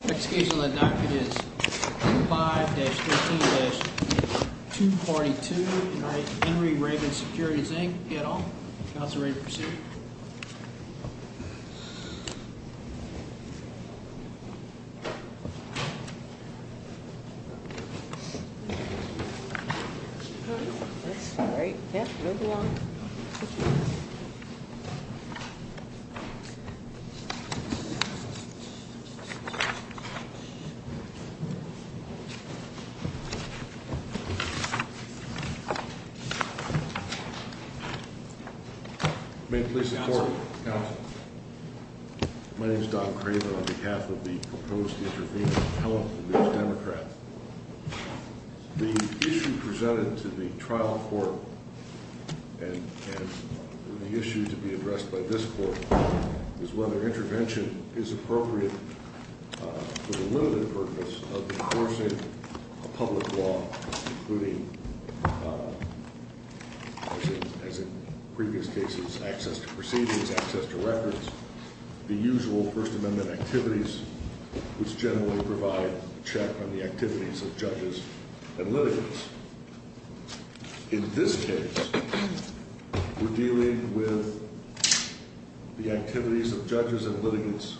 The next case on the docket is 5-13-242 Henry Raven Securities, Inc. Counselor, ready to proceed. My name is Don Craven on behalf of the proposed intervening appellate, the New York Democrats. The issue presented to the trial court and the issue to be addressed by this court is whether intervention is appropriate for the limited purpose of enforcing a public law, including, as in previous cases, access to proceedings, access to records, the usual First Amendment activities, which generally provide a check on the activities of judges and litigants. In this case, we're dealing with the activities of judges and litigants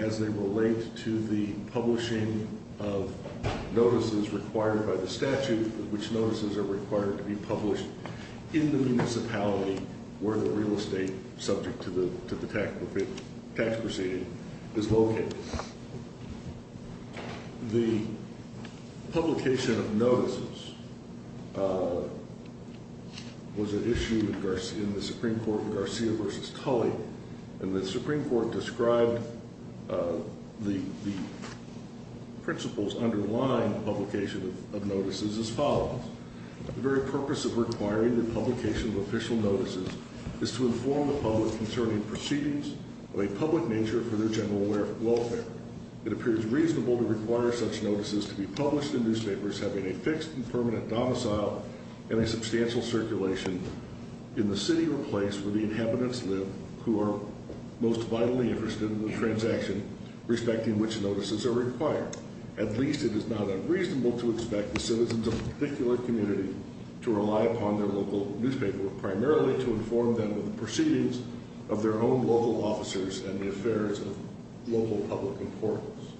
as they relate to the publishing of notices required by the statute, which notices are required to be published in the municipality where the real estate subject to the tax proceeding is located. The publication of notices was an issue in the Supreme Court with Garcia v. Tully, and the Supreme Court described the principles underlying publication of notices as follows. The very purpose of requiring the publication of official notices is to inform the public concerning proceedings of a public nature for their general welfare. It appears reasonable to require such notices to be published in newspapers having a fixed and permanent domicile and a substantial circulation in the city or place where the inhabitants live who are most vitally interested in the transaction respecting which notices are required. At least it is not unreasonable to expect the citizens of a particular community to of their own local officers and the affairs of local public importance.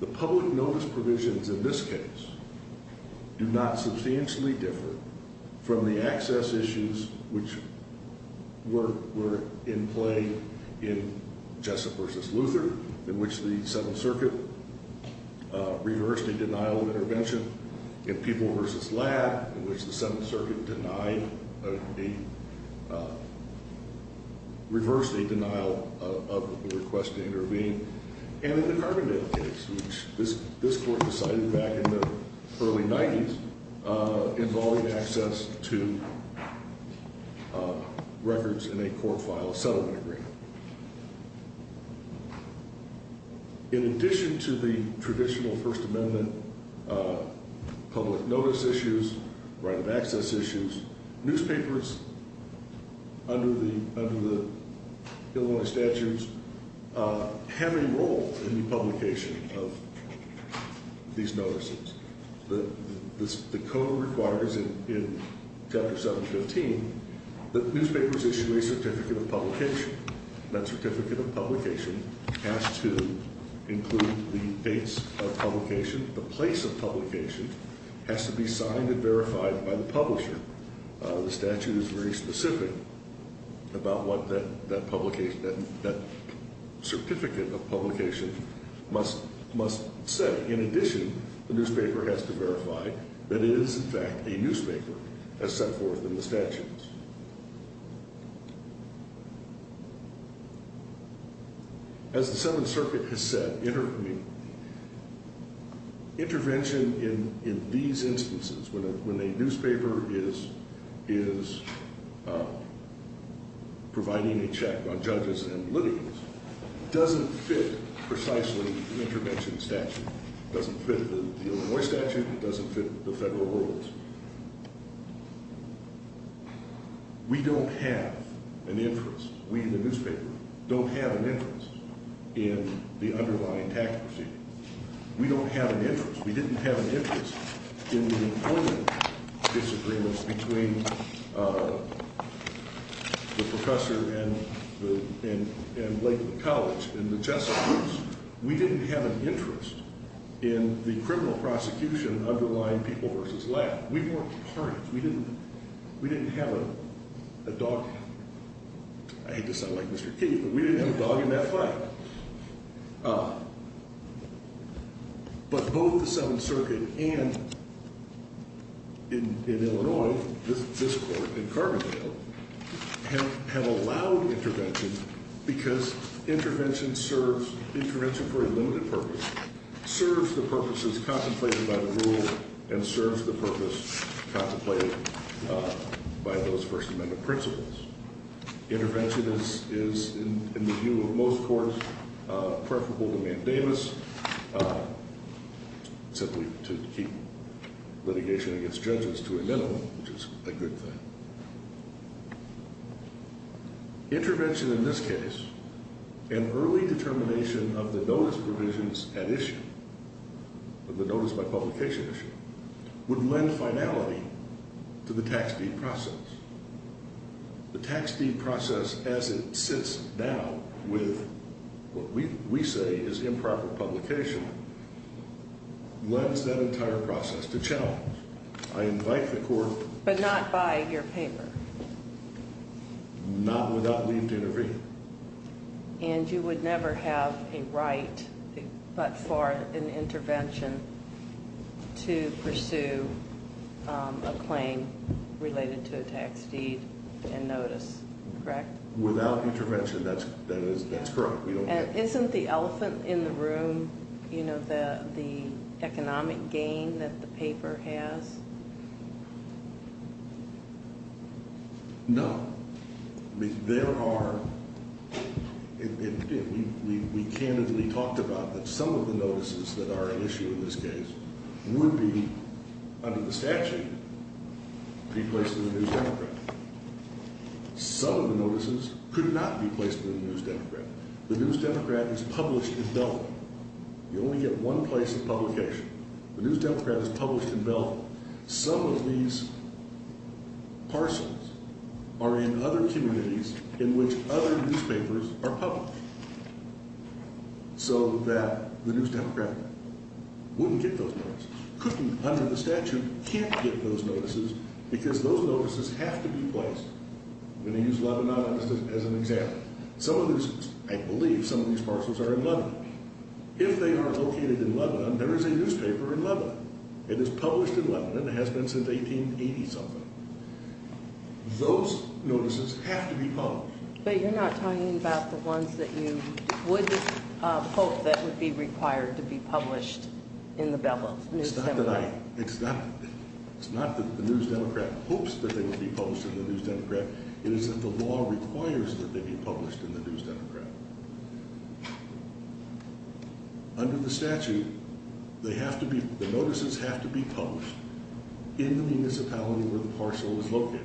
The public notice provisions in this case do not substantially differ from the access issues which were in play in Jessup v. Luther, in which the Seventh Circuit reversed a denial of intervention in People v. Ladd, in which the Seventh Circuit reversed a denial of request to intervene, and in the Carbondale case, which this Court decided back in the early 90s, involving access to records in a court-filed settlement agreement. In addition to the traditional First Amendment public notice issues, right of access issues, newspapers under the Illinois statutes have a role in the publication of these notices. The code requires in Chapter 715 that newspapers issue a certificate of publication. That certificate of publication has to include the dates of publication. The place of publication has to be signed and verified by the publisher. The statute is very specific about what that certificate of publication must say. In addition, the newspaper has to verify that it is, in fact, a newspaper, as set forth in the statutes. As the Seventh Circuit has said, intervention in these instances, when a newspaper is providing a check on judges and litigants, doesn't fit precisely the intervention statute. It doesn't fit the Illinois statute. It doesn't fit the federal rules. We don't have an interest, we the newspaper, don't have an interest in the underlying tax proceeding. We don't have an interest. We didn't have an interest in the employment disagreements between the professor and Lakeland College. In the Chesapeake's, we didn't have an interest in the criminal prosecution underlying people versus lab. We weren't part of it. We didn't have a dog, I hate to sound like Mr. Key, but we didn't have a dog in that fight. But both the Seventh Circuit and, in Illinois, this court in Carbondale, have allowed intervention because intervention serves, intervention for a limited purpose, serves the purposes contemplated by the rule and serves the purpose contemplated by those First Amendment principles. Intervention is, in the view of most courts, preferable to mandamus, simply to keep litigation against judges to a minimum, which is a good thing. Intervention in this case, an early determination of the notice provisions at issue, of the notice by publication issue, would lend finality to the tax deed process. The tax deed process, as it sits now with what we say is improper publication, lends that entire process to challenge. I invite the court- But not by your paper. Not without leave to intervene. And you would never have a right but for an intervention to pursue a claim related to a tax deed and notice, correct? Without intervention, that's correct. Isn't the elephant in the room, you know, the economic gain that the paper has? No. There are, we candidly talked about that some of the notices that are at issue in this case would be, under the statute, be placed in the News Democrat. Some of the notices could not be placed in the News Democrat. The News Democrat is published in Belvin. You only get one place of publication. The News Democrat is published in Belvin. Some of these parcels are in other communities in which other newspapers are published so that the News Democrat wouldn't get those notices. Couldn't, under the statute, can't get those notices because those notices have to be placed. I'm going to use Lebanon as an example. Some of these, I believe some of these parcels are in Lebanon. If they are located in Lebanon, there is a newspaper in Lebanon. It is published in Lebanon. It has been since 1880-something. Those notices have to be published. But you're not talking about the ones that you would hope that would be required to be published in the Belvin News Democrat. It's not that I, it's not that the News Democrat hopes that they would be published in the News Democrat. It is that the law requires that they be published in the News Democrat. Under the statute, they have to be, the notices have to be published in the municipality where the parcel is located.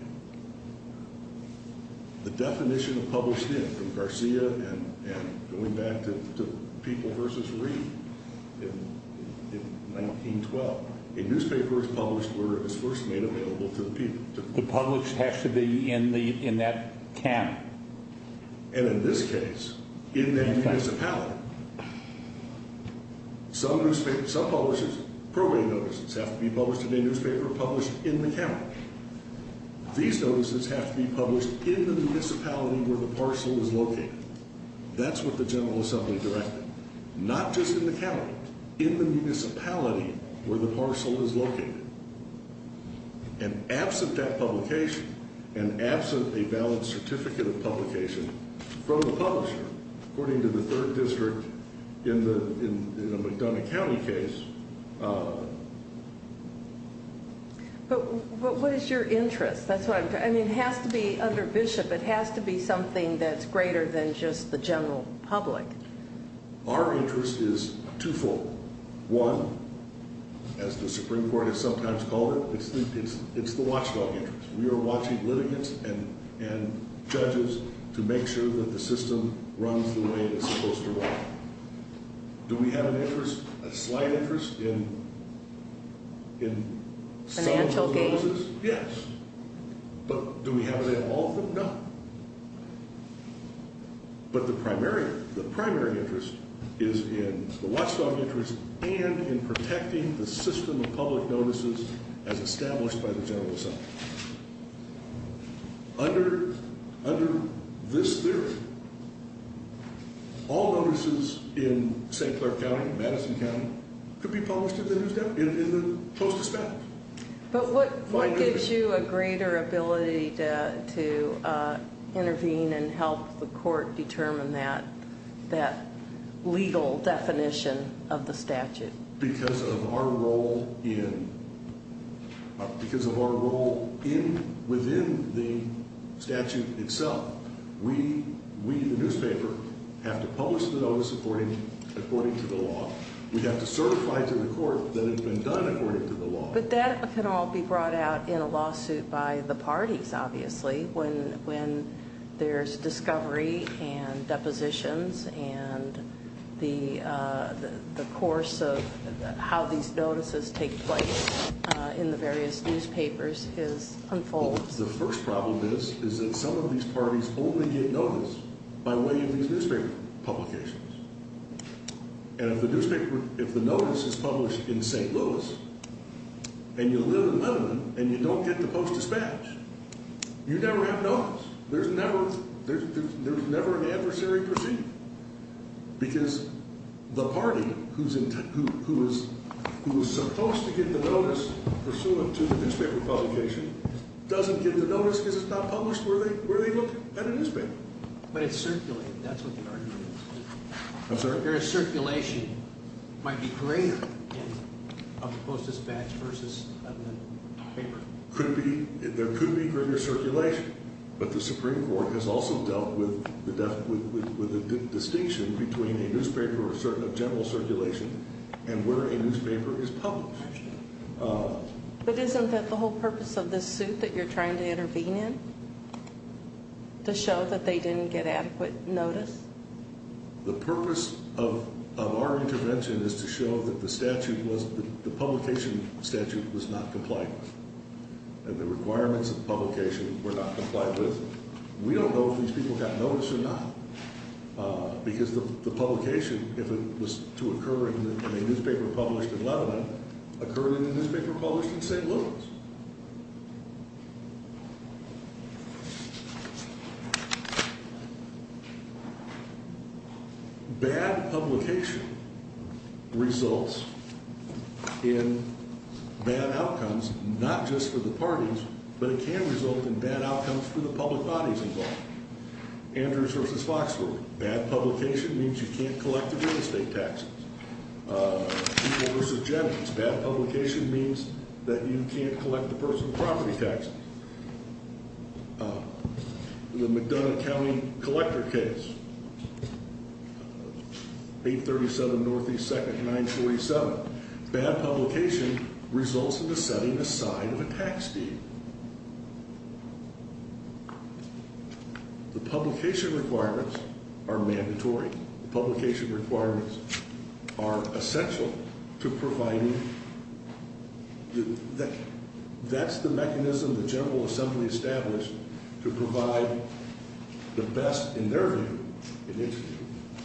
The definition of published in, from Garcia and going back to People v. Reed in 1912, a newspaper is published where it is first made available to the people. The published has to be in that county. And in this case, in that municipality, some newspapers, some publishers, probate notices have to be published in a newspaper published in the county. These notices have to be published in the municipality where the parcel is located. That's what the General Assembly directed. Not just in the county, in the municipality where the parcel is located. And absent that publication, and absent a valid certificate of publication from the publisher, according to the third district in the McDonough County case. But what is your interest? That's what I'm, I mean, it has to be under Bishop. It has to be something that's greater than just the general public. Our interest is twofold. One, as the Supreme Court has sometimes called it, it's the watchdog interest. We are watching litigants and judges to make sure that the system runs the way it's supposed to run. Do we have an interest, a slight interest in some of those notices? Yes. But do we have them all? No. But the primary, the primary interest is in the watchdog interest and in protecting the system of public notices as established by the General Assembly. Under, under this theory, all notices in St. Clair County, Madison County, could be published in the news, in the, in the Post-Dispatch. But what, what gives you a greater ability to, to intervene and help the court determine that, that legal definition of the statute? Because of our role in, because of our role in, within the statute itself, we, we, the newspaper, have to publish the notice according, according to the law. We have to certify to the court that it's been done according to the law. But that can all be brought out in a lawsuit by the parties, obviously, when, when there's discovery and depositions and the, the course of how these notices take place in the various newspapers is unfolded. Well, the first problem is, is that some of these parties only get notice by way of these newspaper publications. And if the newspaper, if the notice is published in St. Louis, and you live in Lebanon, and you don't get the Post-Dispatch, you never have notice. There's never, there's, there's never an adversary proceeding. Because the party who's in, who, who is, who is supposed to get the notice pursuant to the newspaper publication doesn't get the notice because it's not published where they, where they look at a newspaper. But it's circulated. That's what the argument is. I'm sorry? There is circulation. It might be greater in a Post-Dispatch versus a newspaper. Could be, there could be greater circulation. But the Supreme Court has also dealt with the, with, with, with a distinction between a newspaper of general circulation and where a newspaper is published. But isn't that the whole purpose of this suit that you're trying to intervene in? To show that they didn't get adequate notice? The purpose of, of our intervention is to show that the statute was, the publication statute was not compliant. And the requirements of publication were not complied with. We don't know if these people got notice or not. Because the publication, if it was to occur in a newspaper published in Lebanon, occurred in a newspaper published in St. Louis. Bad publication results in bad outcomes, not just for the parties, but it can result in bad outcomes for the public bodies involved. Andrews versus Foxworth. Bad publication means you can't collect the real estate taxes. People versus Jennings. Bad publication means that you can't collect the personal property taxes. The McDonough County collector case, 837 Northeast 2nd, 947. Bad publication results in the setting aside of a tax deed. The publication requirements are mandatory. The publication requirements are essential to providing, that's the mechanism the General Assembly established to provide the best, in their view,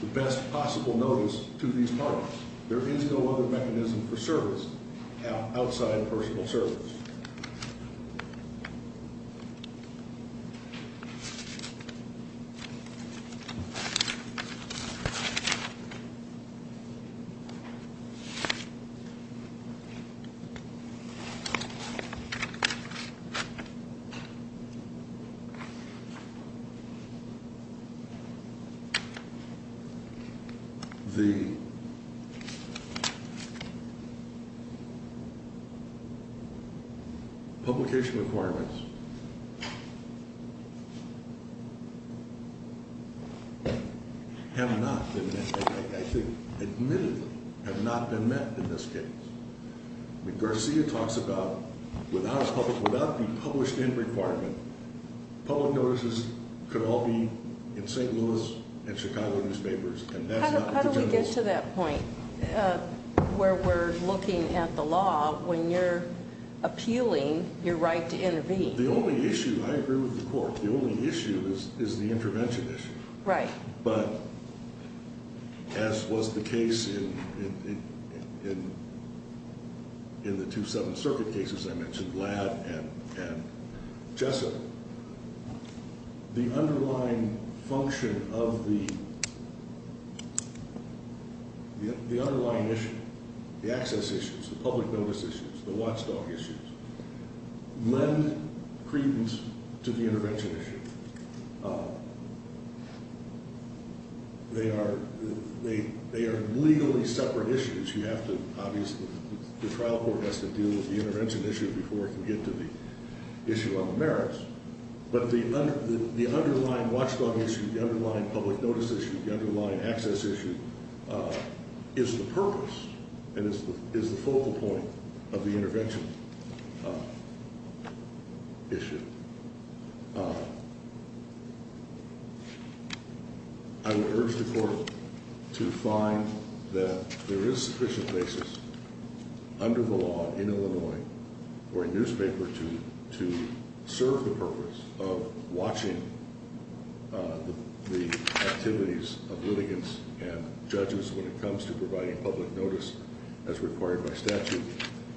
the best possible notice to these parties. There is no other mechanism for service outside personal service. The publication requirements have not been met, I think, admittedly have not been met in this case. Garcia talks about, without the published end requirement, public notices could all be in St. Louis and Chicago newspapers. How do we get to that point where we're looking at the law when you're appealing your right to intervene? The only issue, I agree with the Court, the only issue is the intervention issue. But as was the case in the two Seventh Circuit cases I mentioned, Ladd and Jessup, the underlying function of the underlying issue, the access issues, the public notice issues, the watchdog issues, lend credence to the intervention issue. They are legally separate issues. You have to, obviously, the trial court has to deal with the intervention issue before it can get to the issue of the merits. But the underlying watchdog issue, the underlying public notice issue, the underlying access issue is the purpose and is the focal point of the intervention issue. I would urge the Court to find that there is sufficient basis under the law in Illinois for a newspaper to serve the purpose of watching the activities of litigants and judges when it comes to providing public notice as required by statute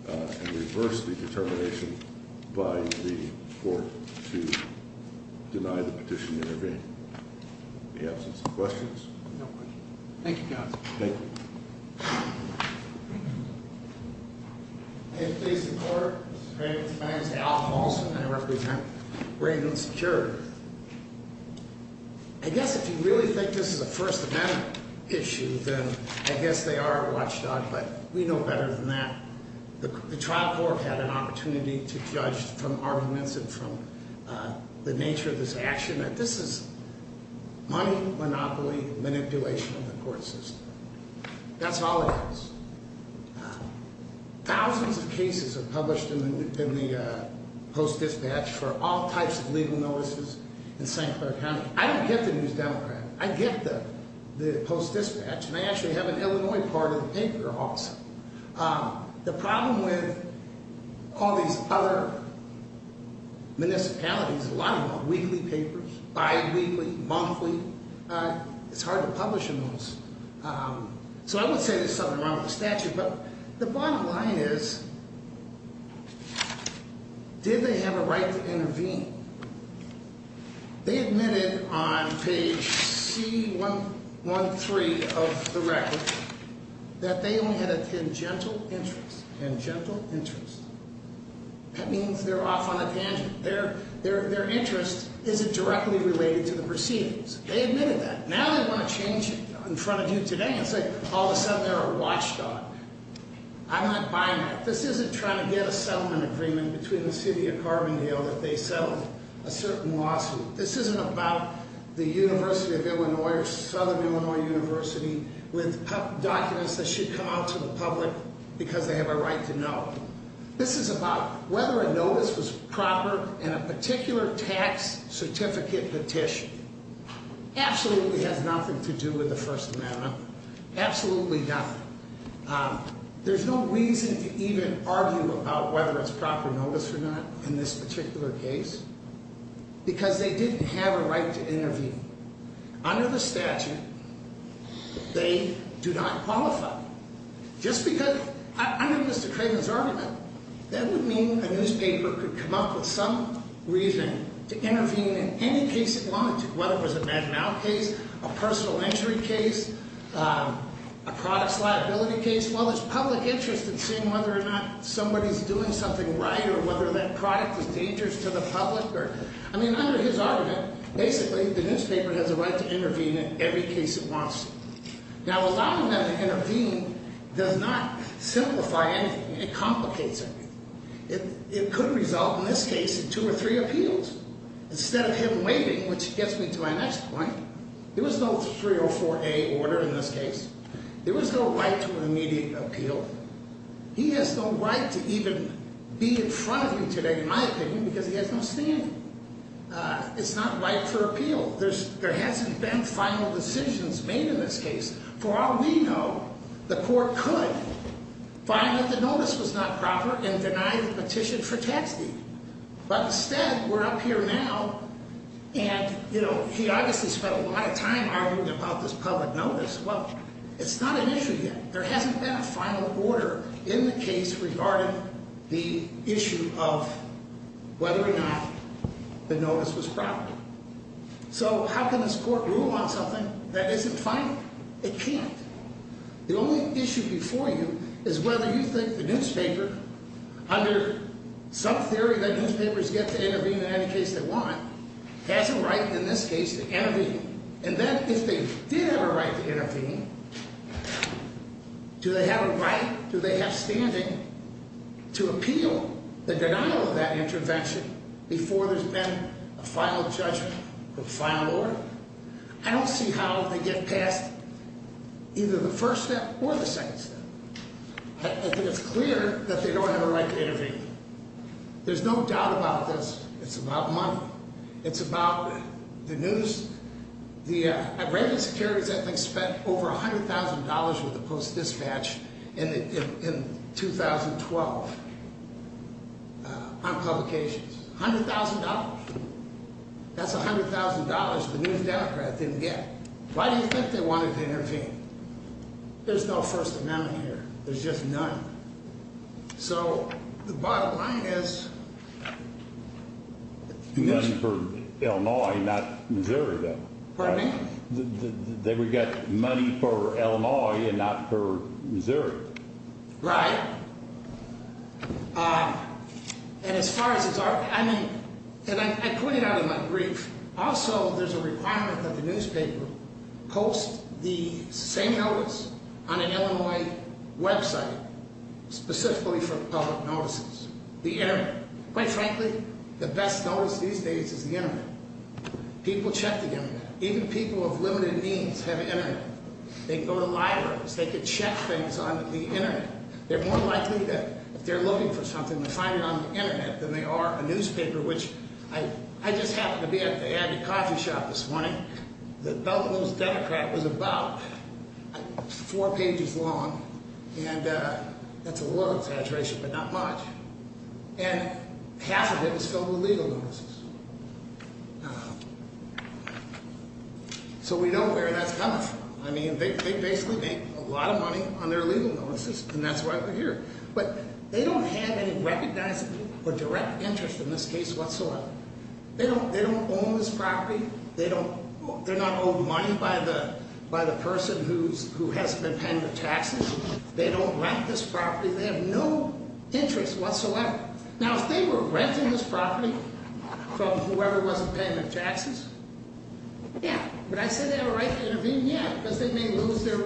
and reverse the determination by the Court to deny the petition to intervene. In the absence of questions? No questions. Thank you, counsel. Thank you. May it please the Court? Great. My name is Al Moulson. I represent Raymond Security. I guess if you really think this is a First Amendment issue, then I guess they are a watchdog, but we know better than that. The trial court had an opportunity to judge from arguments and from the nature of this action that this is money, monopoly, manipulation of the court system. That's all it is. Thousands of cases are published in the Post-Dispatch for all types of legal notices in St. Clair County. I don't get the News Democrat. I get the Post-Dispatch. And I actually have an Illinois part of the paper also. The problem with all these other municipalities is a lot of them are weekly papers, bi-weekly, monthly. It's hard to publish in those. So I wouldn't say there's something wrong with the statute, but the bottom line is did they have a right to intervene? They admitted on page C-113 of the record that they only had a tangential interest. Tangential interest. That means they're off on a tangent. Their interest isn't directly related to the proceedings. They admitted that. Now they want to change it in front of you today and say all of a sudden they're a watchdog. I'm not buying that. This isn't trying to get a settlement agreement between the city of Carbondale that they settle a certain lawsuit. This isn't about the University of Illinois or Southern Illinois University with documents that should come out to the public because they have a right to know. This is about whether a notice was proper and a particular tax certificate petition. Absolutely has nothing to do with the First Amendment. Absolutely nothing. There's no reason to even argue about whether it's proper notice or not in this particular case because they didn't have a right to intervene. Under the statute, they do not qualify. Just because under Mr. Craven's argument, that would mean a newspaper could come up with some reason to intervene in any case it wanted to, whether it was a Madden Owl case, a personal injury case, a products liability case. Well, it's public interest in seeing whether or not somebody's doing something right or whether that product is dangerous to the public. I mean, under his argument, basically the newspaper has a right to intervene in every case it wants to. Now, allowing them to intervene does not simplify anything. It complicates everything. It could result, in this case, in two or three appeals. Instead of him waiting, which gets me to my next point, there was no 304A order in this case. There was no right to an immediate appeal. He has no right to even be in front of me today, in my opinion, because he has no standing. It's not right for appeal. There hasn't been final decisions made in this case. For all we know, the court could find that the notice was not proper and deny the petition for tax deed. But instead, we're up here now and, you know, he obviously spent a lot of time arguing about this public notice. Well, it's not an issue yet. There hasn't been a final order in the case regarding the issue of whether or not the notice was proper. So how can this court rule on something that isn't final? It can't. The only issue before you is whether you think the newspaper, under some theory that newspapers get to intervene in any case they want, has a right, in this case, to intervene. And then if they did have a right to intervene, do they have a right, do they have standing to appeal the denial of that intervention before there's been a final judgment or final order? I don't see how they get past either the first step or the second step. I think it's clear that they don't have a right to intervene. There's no doubt about this. It's about money. It's about the news. The, at Reagan Securities, I think, spent over $100,000 with the Post-Dispatch in 2012 on publications. $100,000. That's $100,000 the New Democrats didn't get. Why do you think they wanted to intervene? There's no first amount here. There's just none. So the bottom line is... None for Illinois, not Missouri, though. Pardon me? They would get money for Illinois and not for Missouri. Right. And as far as... I mean, and I put it out in my brief. Also, there's a requirement that the newspaper post the same notice on an Illinois website specifically for public notices. The internet. Quite frankly, the best notice these days is the internet. People check the internet. Even people of limited means have internet. They can go to libraries. They can check things on the internet. They're more likely to, if they're looking for something, to find it on the internet than they are a newspaper, which... I just happened to be at the Abbey Coffee Shop this morning. The Belt and Road Democrat was about four pages long. And that's a little exaggeration, but not much. And half of it was filled with legal notices. So we know where that's coming from. I mean, they basically make a lot of money on their legal notices, and that's why we're here. But they don't have any recognizable or direct interest in this case whatsoever. They don't own this property. They're not owed money by the person who has to pay their taxes. They don't rent this property. They have no interest whatsoever. Now, if they were renting this property from whoever wasn't paying their taxes, yeah. But I say they have a right to intervene, yeah, because they may lose their...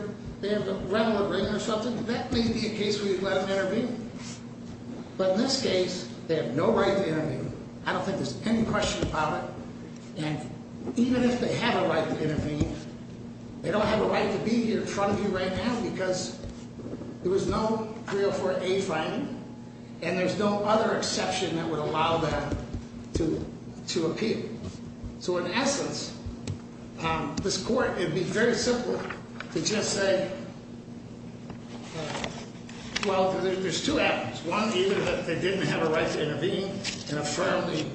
They have a rental agreement or something. That may be a case where you'd let them intervene. But in this case, they have no right to intervene. I don't think there's any question about it. And even if they have a right to intervene, they don't have a right to be here in front of you right now because there was no 304A finding, and there's no other exception that would allow them to appear. So in essence, this court, it would be very simple to just say, well, there's two avenues. One, either that they didn't have a right to intervene in front of the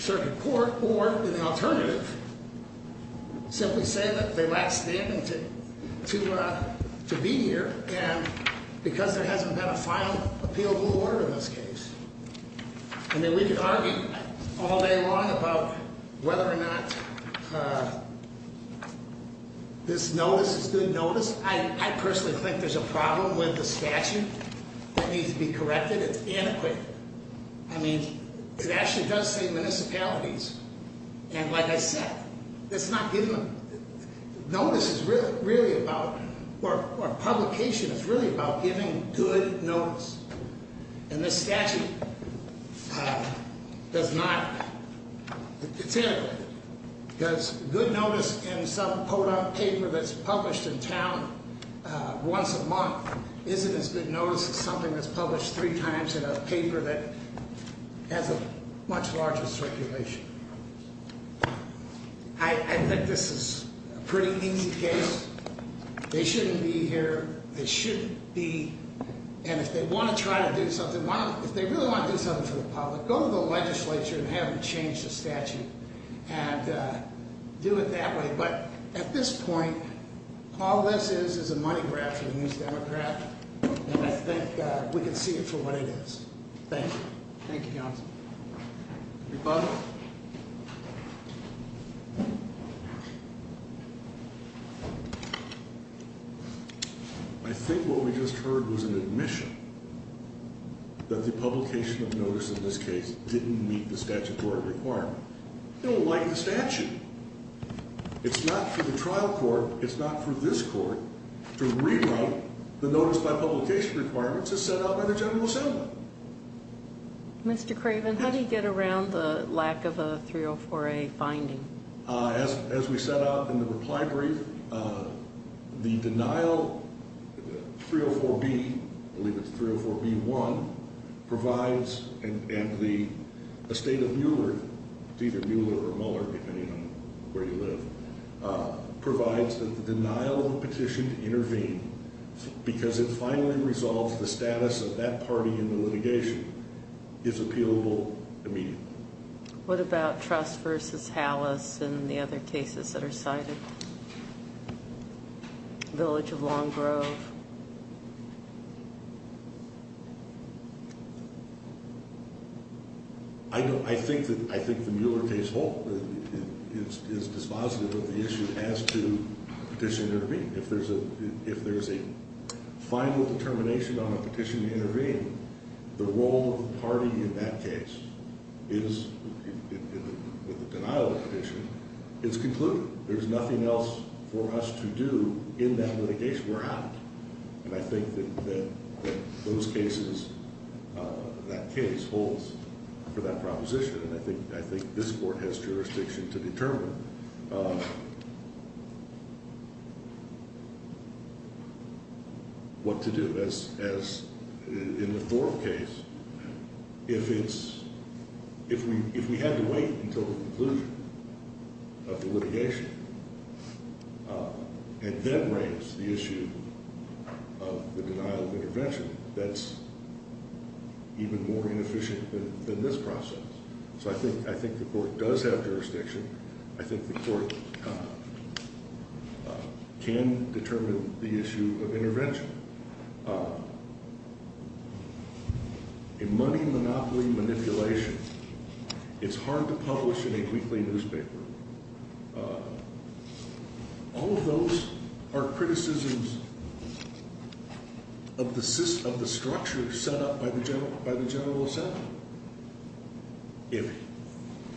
circuit court, or the alternative, simply say that they lack standing to be here and because there hasn't been a final appeal to the court in this case. And then we could argue all day long about whether or not this notice is good notice. I personally think there's a problem with the statute that needs to be corrected. It's inadequate. I mean, it actually does say municipalities. And like I said, notice is really about, or publication is really about giving good notice. And this statute does not, it's inadequate. Because good notice in some potent paper that's published in town once a month isn't as good notice as something that's published three times in a paper that has a much larger circulation. I think this is a pretty easy case. They shouldn't be here. They shouldn't be. And if they want to try to do something, if they really want to do something for the public, go to the legislature and have them change the statute and do it that way. But at this point, all this is is a money grab for the New Democrat. And I think we can see it for what it is. Thank you. Thank you, counsel. Rebuttal. I think what we just heard was an admission that the publication of notice in this case didn't meet the statutory requirement. They don't like the statute. It's not for the trial court. It's not for this court to rewrite the notice by publication requirements as set out by the General Assembly. Mr. Craven, how do you get around the lack of a 304A finding? As we set out in the reply brief, the denial, 304B, I believe it's 304B1, provides and the estate of Mueller, it's either Mueller or Mueller depending on where you live, provides that the denial of petition to intervene, because it finally resolves the status of that party in the litigation, is appealable immediately. What about Trust v. Halas and the other cases that are cited? Village of Long Grove. I think the Mueller case is dispositive of the issue as to petition to intervene. If there's a final determination on a petition to intervene, the role of the party in that case is, with the denial of the petition, it's concluded. There's nothing else for us to do in that litigation. We're out. And I think that those cases, that case holds for that proposition. And I think this court has jurisdiction to determine what to do. In the Thorpe case, if we had to wait until the conclusion of the litigation, and then raise the issue of the denial of intervention, that's even more inefficient than this process. So I think the court does have jurisdiction. I think the court can determine the issue of intervention. A money monopoly manipulation. It's hard to publish in a weekly newspaper. All of those are criticisms of the structure set up by the general assembly. If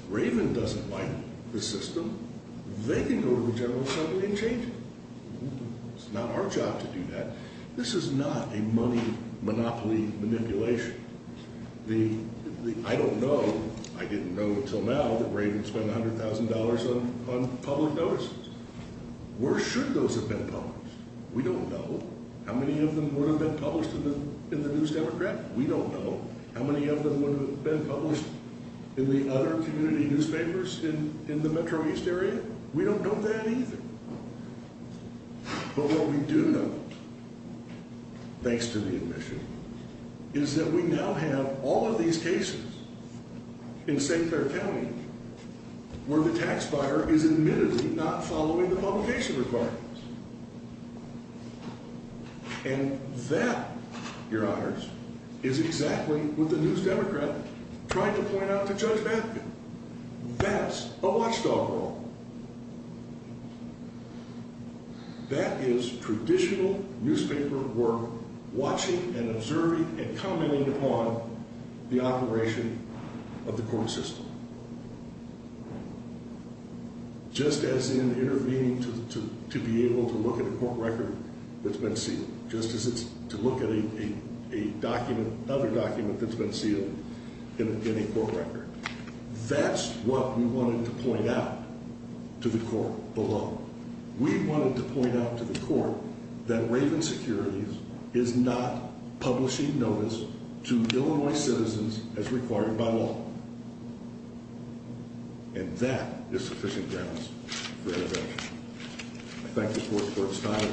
Raven doesn't like the system, they can go to the general assembly and change it. It's not our job to do that. This is not a money monopoly manipulation. I don't know. I didn't know until now that Raven spent $100,000 on public notices. Where should those have been published? We don't know. How many of them would have been published in the News Democrat? We don't know. How many of them would have been published in the other community newspapers in the metro east area? We don't know that either. But what we do know, thanks to the admission, is that we now have all of these cases in St. Clair County where the tax buyer is admittedly not following the publication requirements. And that, your honors, is exactly what the News Democrat tried to point out to Judge Batman. That's a watchdog role. That is traditional newspaper work watching and observing and commenting upon the operation of the court system. Just as in intervening to be able to look at a court record that's been sealed. Just as it's to look at another document that's been sealed in a court record. That's what we wanted to point out to the court below. We wanted to point out to the court that Raven Securities is not publishing notice to Illinois citizens as required by law. And that is sufficient grounds for intervention. I thank the court for its time.